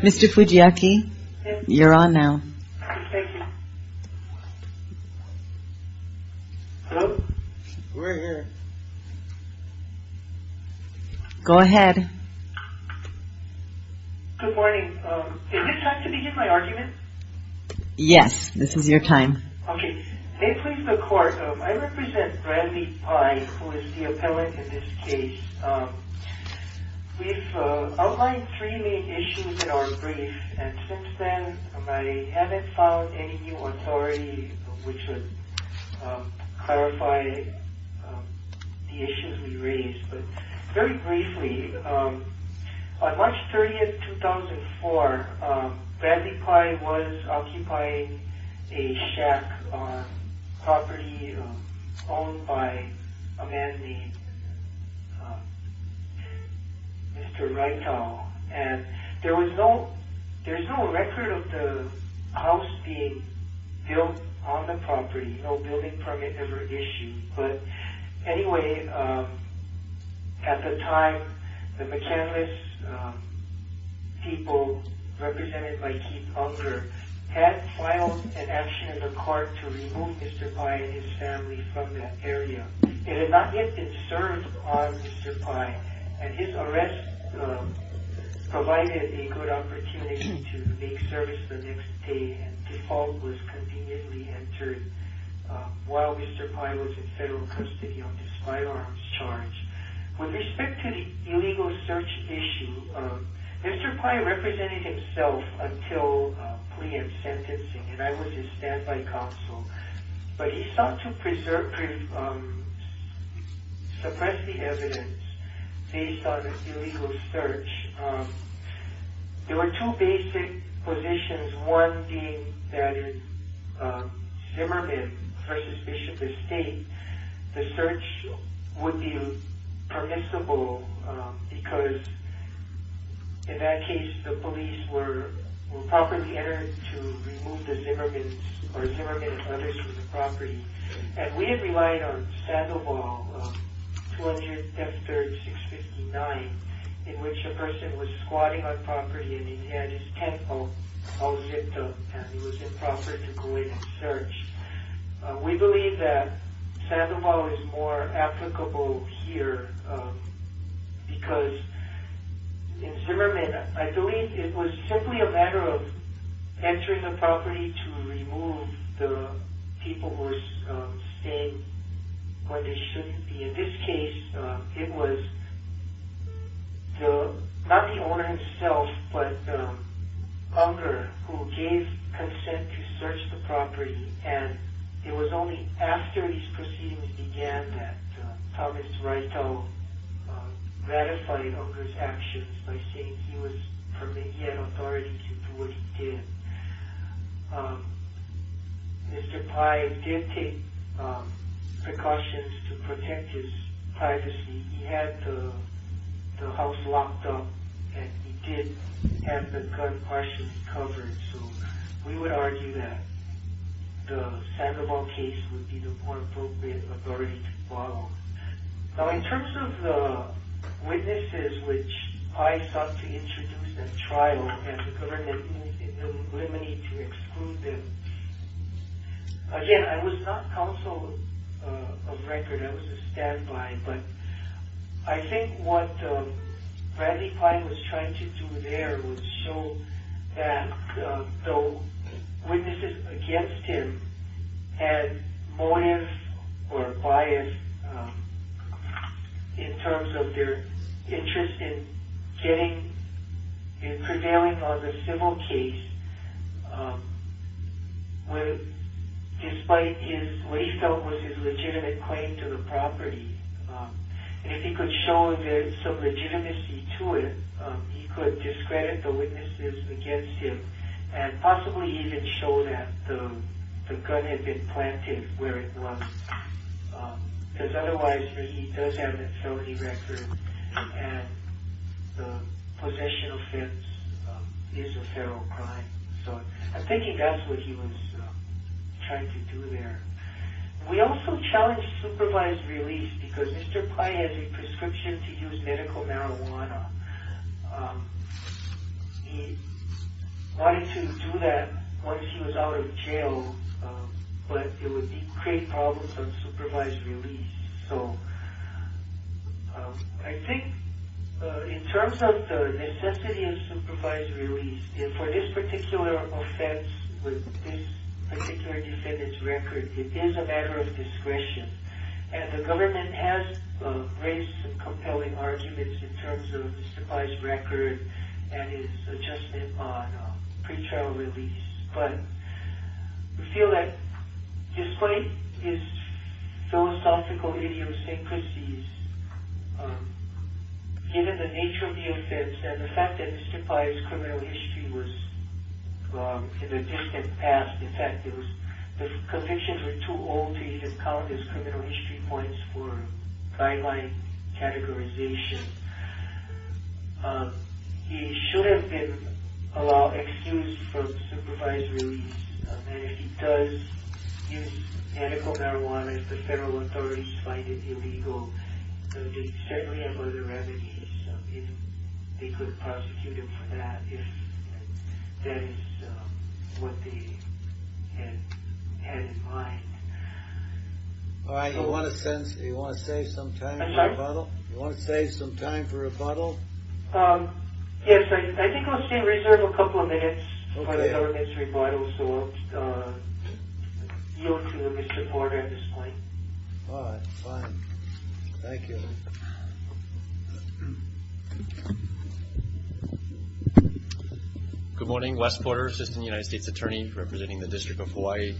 Mr. Fujiaki, you're on now. Go ahead. Good morning. Is this time to begin my argument? Yes, this is your time. May it please the court, I represent Bradley Pai, who is the appellant in this case. We've outlined three main issues in our brief, and since then I haven't found any new authority which would clarify the issues we raised. Very briefly, on March 30, 2004, Bradley Pai was occupying a shack on property owned by a man named Mr. Wrightall. There was no record of the house being built on the property, no building permit ever issued. But anyway, at the time, the McCanless people, represented by Keith Unger, had filed an action in the court to remove Mr. Pai and his family from that area. They had not yet been served on Mr. Pai, and his arrest provided a good opportunity to make service the next day, and default was conveniently entered while Mr. Pai was in federal custody on this firearms charge. With respect to the illegal search issue, Mr. Pai represented himself until plea and sentencing, and I was his standby counsel, but he sought to suppress the evidence based on an illegal search. There were two basic positions, one being Zimmerman v. Bishop Estate. The search would be permissible because, in that case, the police were properly entered to remove Zimmerman and others from the property. And we had relied on Sandoval 200 F3-659, in which a person was squatting on property and he had his tent all zipped up, and it was improper to go in and search. We believe that Sandoval is more applicable here because, in Zimmerman, I believe it was simply a matter of entering the property to remove the people who were staying where they shouldn't be. In this case, it was not the owner himself, but Unger, who gave consent to search the property, and it was only after these proceedings began that Thomas Rytel ratified Unger's actions by saying he had authority to do what he did. Mr. Pai did take precautions to protect his privacy. He had the house locked up and he did have the gun partially covered, so we would argue that the Sandoval case would be the more appropriate authority to follow. Now, in terms of the witnesses, which I sought to introduce at trial and to eliminate and exclude them, again, I was not counsel of record, I was a stand-by, but I think what Bradley Pai was trying to do there was show that though witnesses against him had motive or bias in terms of their interest in prevailing on the civil case, despite what he felt was his legitimate claim to the property, and if he could show there's some legitimacy to it, he could discredit the witnesses against him and possibly even show that the gun had been planted where it was, because otherwise he does have a felony record and the possession offense is a feral crime. So I think that's what he was trying to do there. We also challenged supervised release because Mr. Pai has a prescription to use medical marijuana. He wanted to do that once he was out of jail, but it would create problems on supervised release. So I think in terms of the necessity of supervised release, for this particular offense with this particular defendant's record, it is a matter of discretion, and the government has raised some compelling arguments in terms of Mr. Pai's record and his adjustment on pre-trial release, but we feel that despite his philosophical idiosyncrasies, given the nature of the offense and the fact that Mr. Pai's criminal history was in the distant past, in fact, the convictions were too old to even count as criminal history points for guideline categorization, he should have been allowed excuse for supervised release, and if he does use medical marijuana, if the federal authorities find it illegal, they certainly have other remedies. They could prosecute him for that if that is what they had in mind. All right, do you want to save some time for rebuttal? Do you want to save some time for rebuttal? Yes, I think we'll still reserve a couple of minutes for the government's rebuttal, so I'll yield to Mr. Porter at this point. All right, fine. Thank you. Good morning. Wes Porter, Assistant United States Attorney representing the District of Hawaii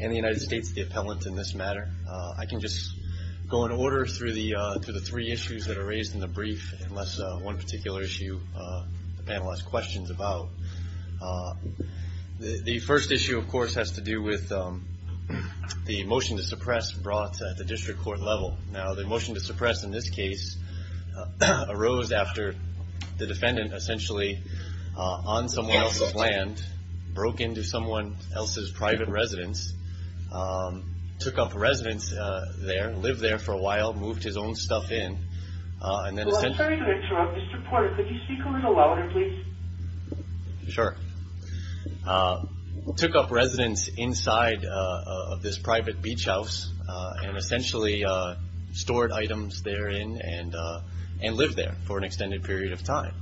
and the United States, the appellant in this matter. I can just go in order through the three issues that are raised in the brief, unless one particular issue the panel has questions about. The first issue, of course, has to do with the motion to suppress brought at the district court level. Now the motion to suppress in this case arose after the defendant essentially on someone else's land, broke into someone else's private residence, took up residence there, lived there for a while, moved his own stuff in. I'm sorry to interrupt. Mr. Porter, could you speak a little louder, please? Sure. Took up residence inside of this private beach house and essentially stored items therein and lived there for an extended period of time.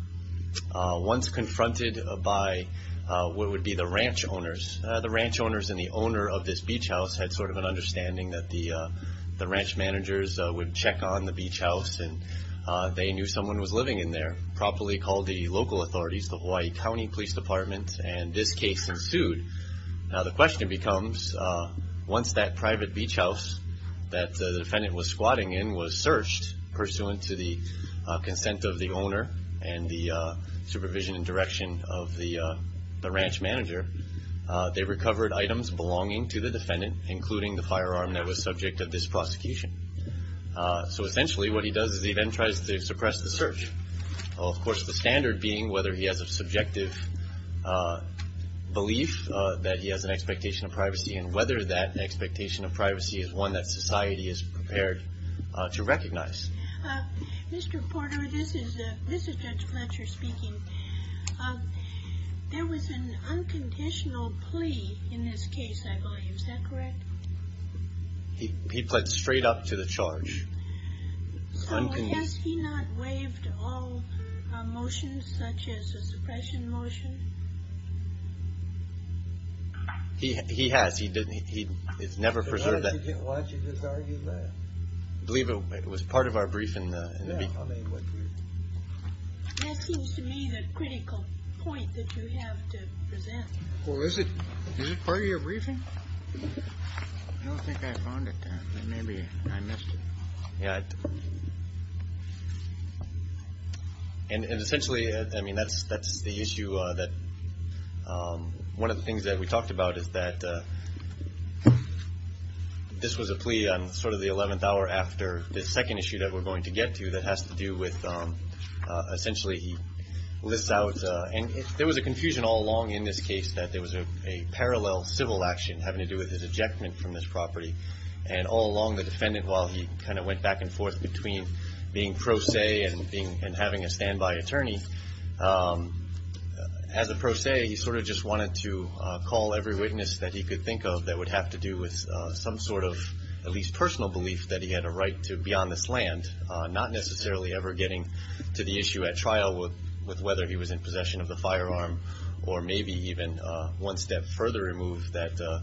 Once confronted by what would be the ranch owners, the ranch owners and the owner of this beach house had sort of an understanding that the ranch managers would check on the beach house and they knew someone was living in there. Properly called the local authorities, the Hawaii County Police Department, and this case ensued. Now the question becomes, once that private beach house that the defendant was squatting in was searched, pursuant to the consent of the owner and the supervision and direction of the ranch manager, they recovered items belonging to the defendant, including the firearm that was subject to this prosecution. So essentially what he does is he then tries to suppress the search. Of course, the standard being whether he has a subjective belief that he has an expectation of privacy and whether that expectation of privacy is one that society is prepared to recognize. Mr. Porter, this is Judge Fletcher speaking. There was an unconditional plea in this case, I believe. Is that correct? He pled straight up to the charge. So has he not waived all motions such as the suppression motion? He has. He has never preserved that. Why don't you just argue that? I believe it was part of our briefing in the beach house. That seems to me the critical point that you have to present. Well, is it part of your briefing? I don't think I found it. Maybe I missed it. And essentially, I mean, that's the issue that one of the things that we talked about is that this was a plea on sort of the 11th hour after the second issue that we're going to get to that has to do with essentially he lists out and there was a confusion all along in this case that there was a parallel civil action having to do with his ejectment from this property. And all along the defendant, while he kind of went back and forth between being pro se and having a standby attorney, as a pro se, he sort of just wanted to call every witness that he could think of that would have to do with some sort of at least personal belief that he had a right to be on this land, not necessarily ever getting to the issue at trial with whether he was in possession of the firearm or maybe even one step further removed that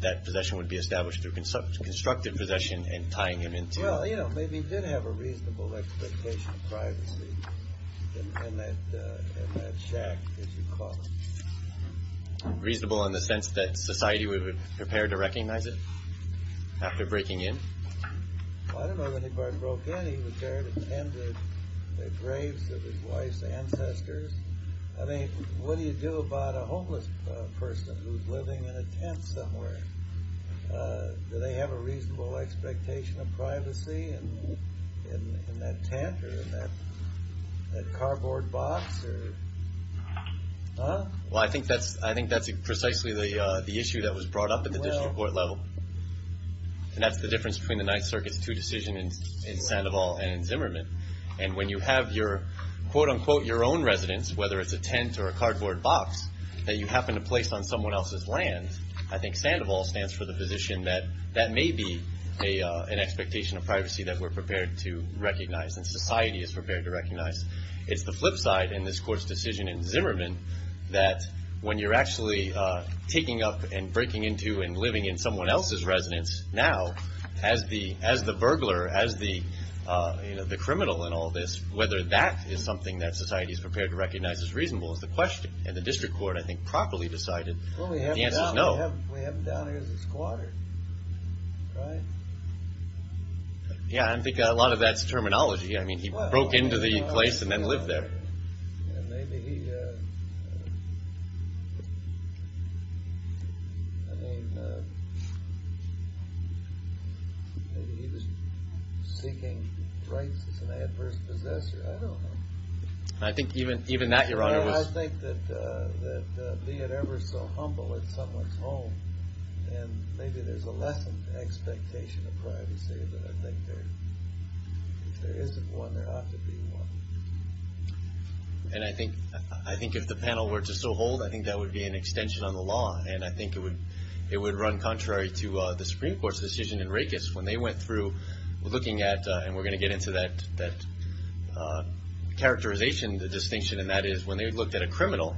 that possession would be established through constructive possession and tying him into... Well, you know, maybe he did have a reasonable expectation of privacy in that shack, as you call it. Reasonable in the sense that society was prepared to recognize it after breaking in? Well, I don't know that he broke in. He was there and attended the graves of his wife's ancestors. I mean, what do you do about a homeless person who's living in a tent somewhere? Do they have a reasonable expectation of privacy in that tent or in that cardboard box? Well, I think that's precisely the issue that was brought up at the district court level. And that's the difference between the Ninth Circuit's two decisions in Sandoval and in Zimmerman. And when you have your, quote unquote, your own residence, whether it's a tent or a cardboard box that you happen to place on someone else's land, I think Sandoval stands for the position that that may be an expectation of privacy that we're prepared to recognize and society is prepared to recognize. It's the flip side in this court's decision in Zimmerman that when you're actually taking up and breaking into and living in someone else's residence now as the burglar, as the criminal in all this, whether that is something that society is prepared to recognize as reasonable is the question. And the district court, I think, properly decided the answer is no. Well, we have him down here as a squatter, right? Yeah, I think a lot of that's terminology. I mean, he broke into the place and then lived there. And maybe he, I mean, maybe he was seeking rights as an adverse possessor. I don't know. I think even that, Your Honor, was. Yeah, I think that being ever so humble in someone's home and maybe there's a lessened expectation of privacy, but I think if there isn't one, there ought to be one. And I think if the panel were to so hold, I think that would be an extension on the law. And I think it would run contrary to the Supreme Court's decision in Rakes when they went through looking at, and we're going to get into that characterization, the distinction, and that is when they looked at a criminal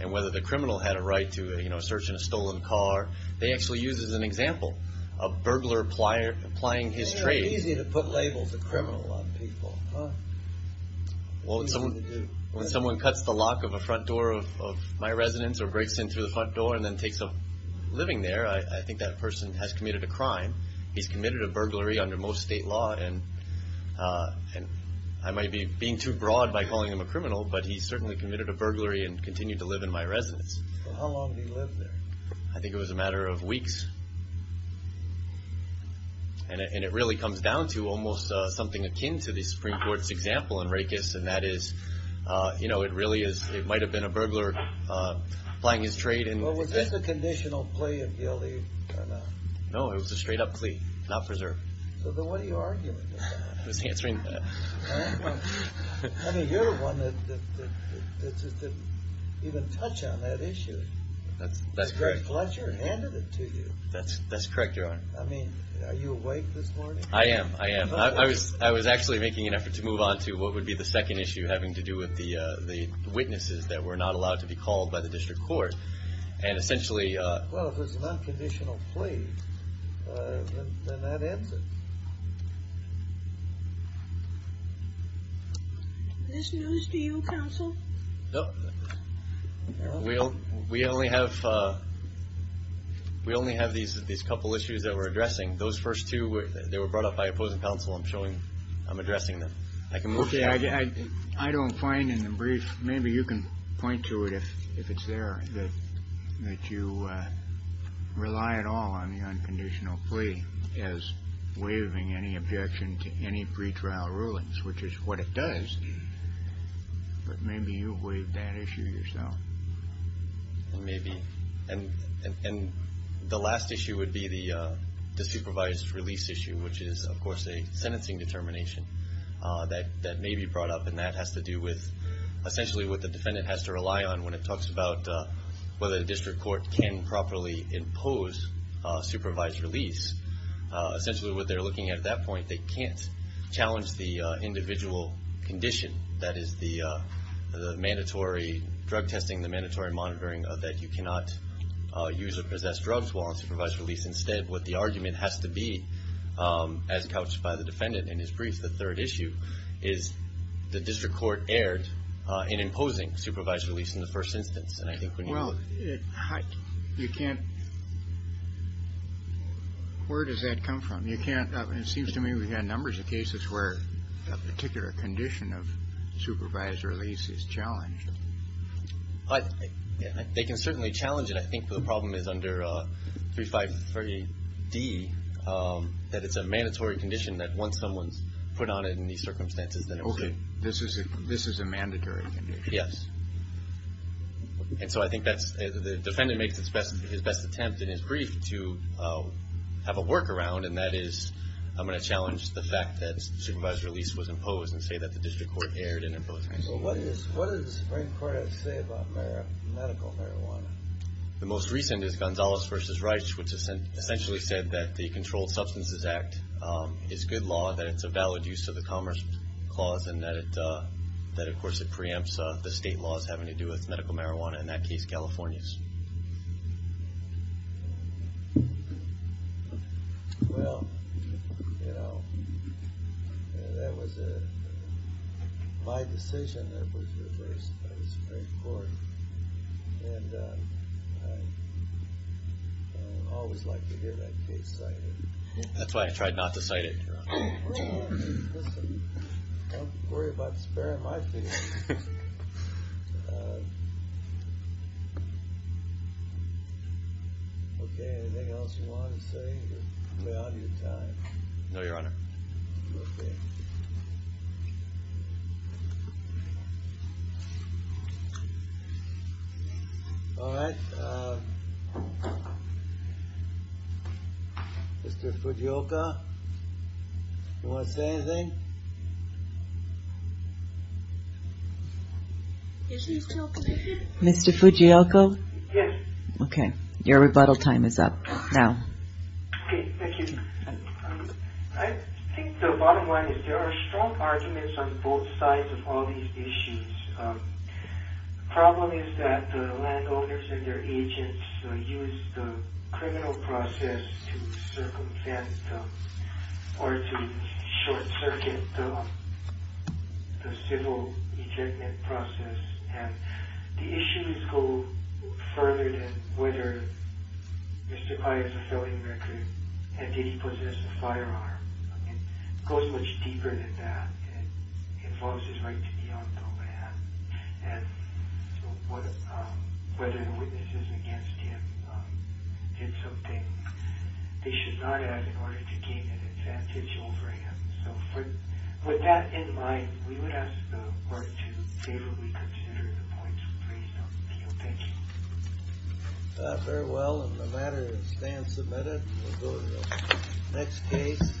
and whether the criminal had a right to, you know, search in a stolen car, they actually used as an example a burglar applying his trade. Isn't it easy to put labels of criminal on people? Well, when someone cuts the lock of a front door of my residence or breaks in through the front door and then takes up living there, I think that person has committed a crime. He's committed a burglary under most state law, and I might be being too broad by calling him a criminal, but he's certainly committed a burglary and continued to live in my residence. How long did he live there? I think it was a matter of weeks. And it really comes down to almost something akin to the Supreme Court's example in Rakes, and that is, you know, it really is, it might have been a burglar applying his trade. Well, was this a conditional plea of guilty or not? No, it was a straight-up plea, not preserved. So then what are you arguing about? I was answering that. I mean, you're the one that didn't even touch on that issue. That's correct. The great pleasure handed it to you. That's correct, Your Honor. I mean, are you awake this morning? I am, I am. I was actually making an effort to move on to what would be the second issue having to do with the witnesses that were not allowed to be called by the district court, and essentially— Well, if it's an unconditional plea, then that ends it. Is this news to you, Counsel? No. We only have these couple issues that we're addressing. Those first two, they were brought up by opposing counsel. I'm showing I'm addressing them. Okay. I don't find in the brief, maybe you can point to it if it's there, that you rely at all on the unconditional plea as waiving any objection to any pretrial rulings, which is what it does, but maybe you waived that issue yourself. Maybe. And the last issue would be the supervised release issue, which is, of course, a sentencing determination that may be brought up, and that has to do with essentially what the defendant has to rely on when it talks about whether the district court can properly impose supervised release. Essentially what they're looking at at that point, they can't challenge the individual condition, that is the mandatory drug testing, the mandatory monitoring, that you cannot use or possess drugs while on supervised release. Instead, what the argument has to be, as couched by the defendant in his brief, the third issue, is the district court erred in imposing supervised release in the first instance. Well, you can't – where does that come from? It seems to me we've had numbers of cases where a particular condition of supervised release is challenged. They can certainly challenge it. I think the problem is under 353D that it's a mandatory condition that once someone's put on it in these circumstances. Okay. This is a mandatory condition. Yes. And so I think that's – the defendant makes his best attempt in his brief to have a workaround, and that is I'm going to challenge the fact that supervised release was imposed and say that the district court erred in imposing it. Well, what does the Supreme Court have to say about medical marijuana? The most recent is Gonzales v. Reich, which essentially said that the Controlled Substances Act is good law, that it's a valid use of the Commerce Clause, and that, of course, it preempts the state laws having to do with medical marijuana, in that case, California's. Well, you know, that was my decision that was reversed by the Supreme Court, and I always like to hear that case cited. That's why I tried not to cite it, Your Honor. Don't worry about sparing my feet. Okay, anything else you want to say? You're way out of your time. No, Your Honor. Okay. All right, Mr. Fujioka, you want to say anything? Mr. Fujioka? Yes. Okay, your rebuttal time is up now. Okay, thank you. I think the bottom line is there are strong arguments on both sides of all these issues. The problem is that the landowners and their agents use the criminal process to circumvent or to short-circuit the civil ejectment process, and the issues go further than whether Mr. Pai is a felony recruit and did he possess a firearm. It goes much deeper than that. It involves his right to be on the land, and whether the witnesses against him did something they should not have in order to gain an advantage over him. With that in mind, we would ask the Court to favorably consider the points raised on appeal. Thank you. Very well. The matter is then submitted. We'll go to the next case.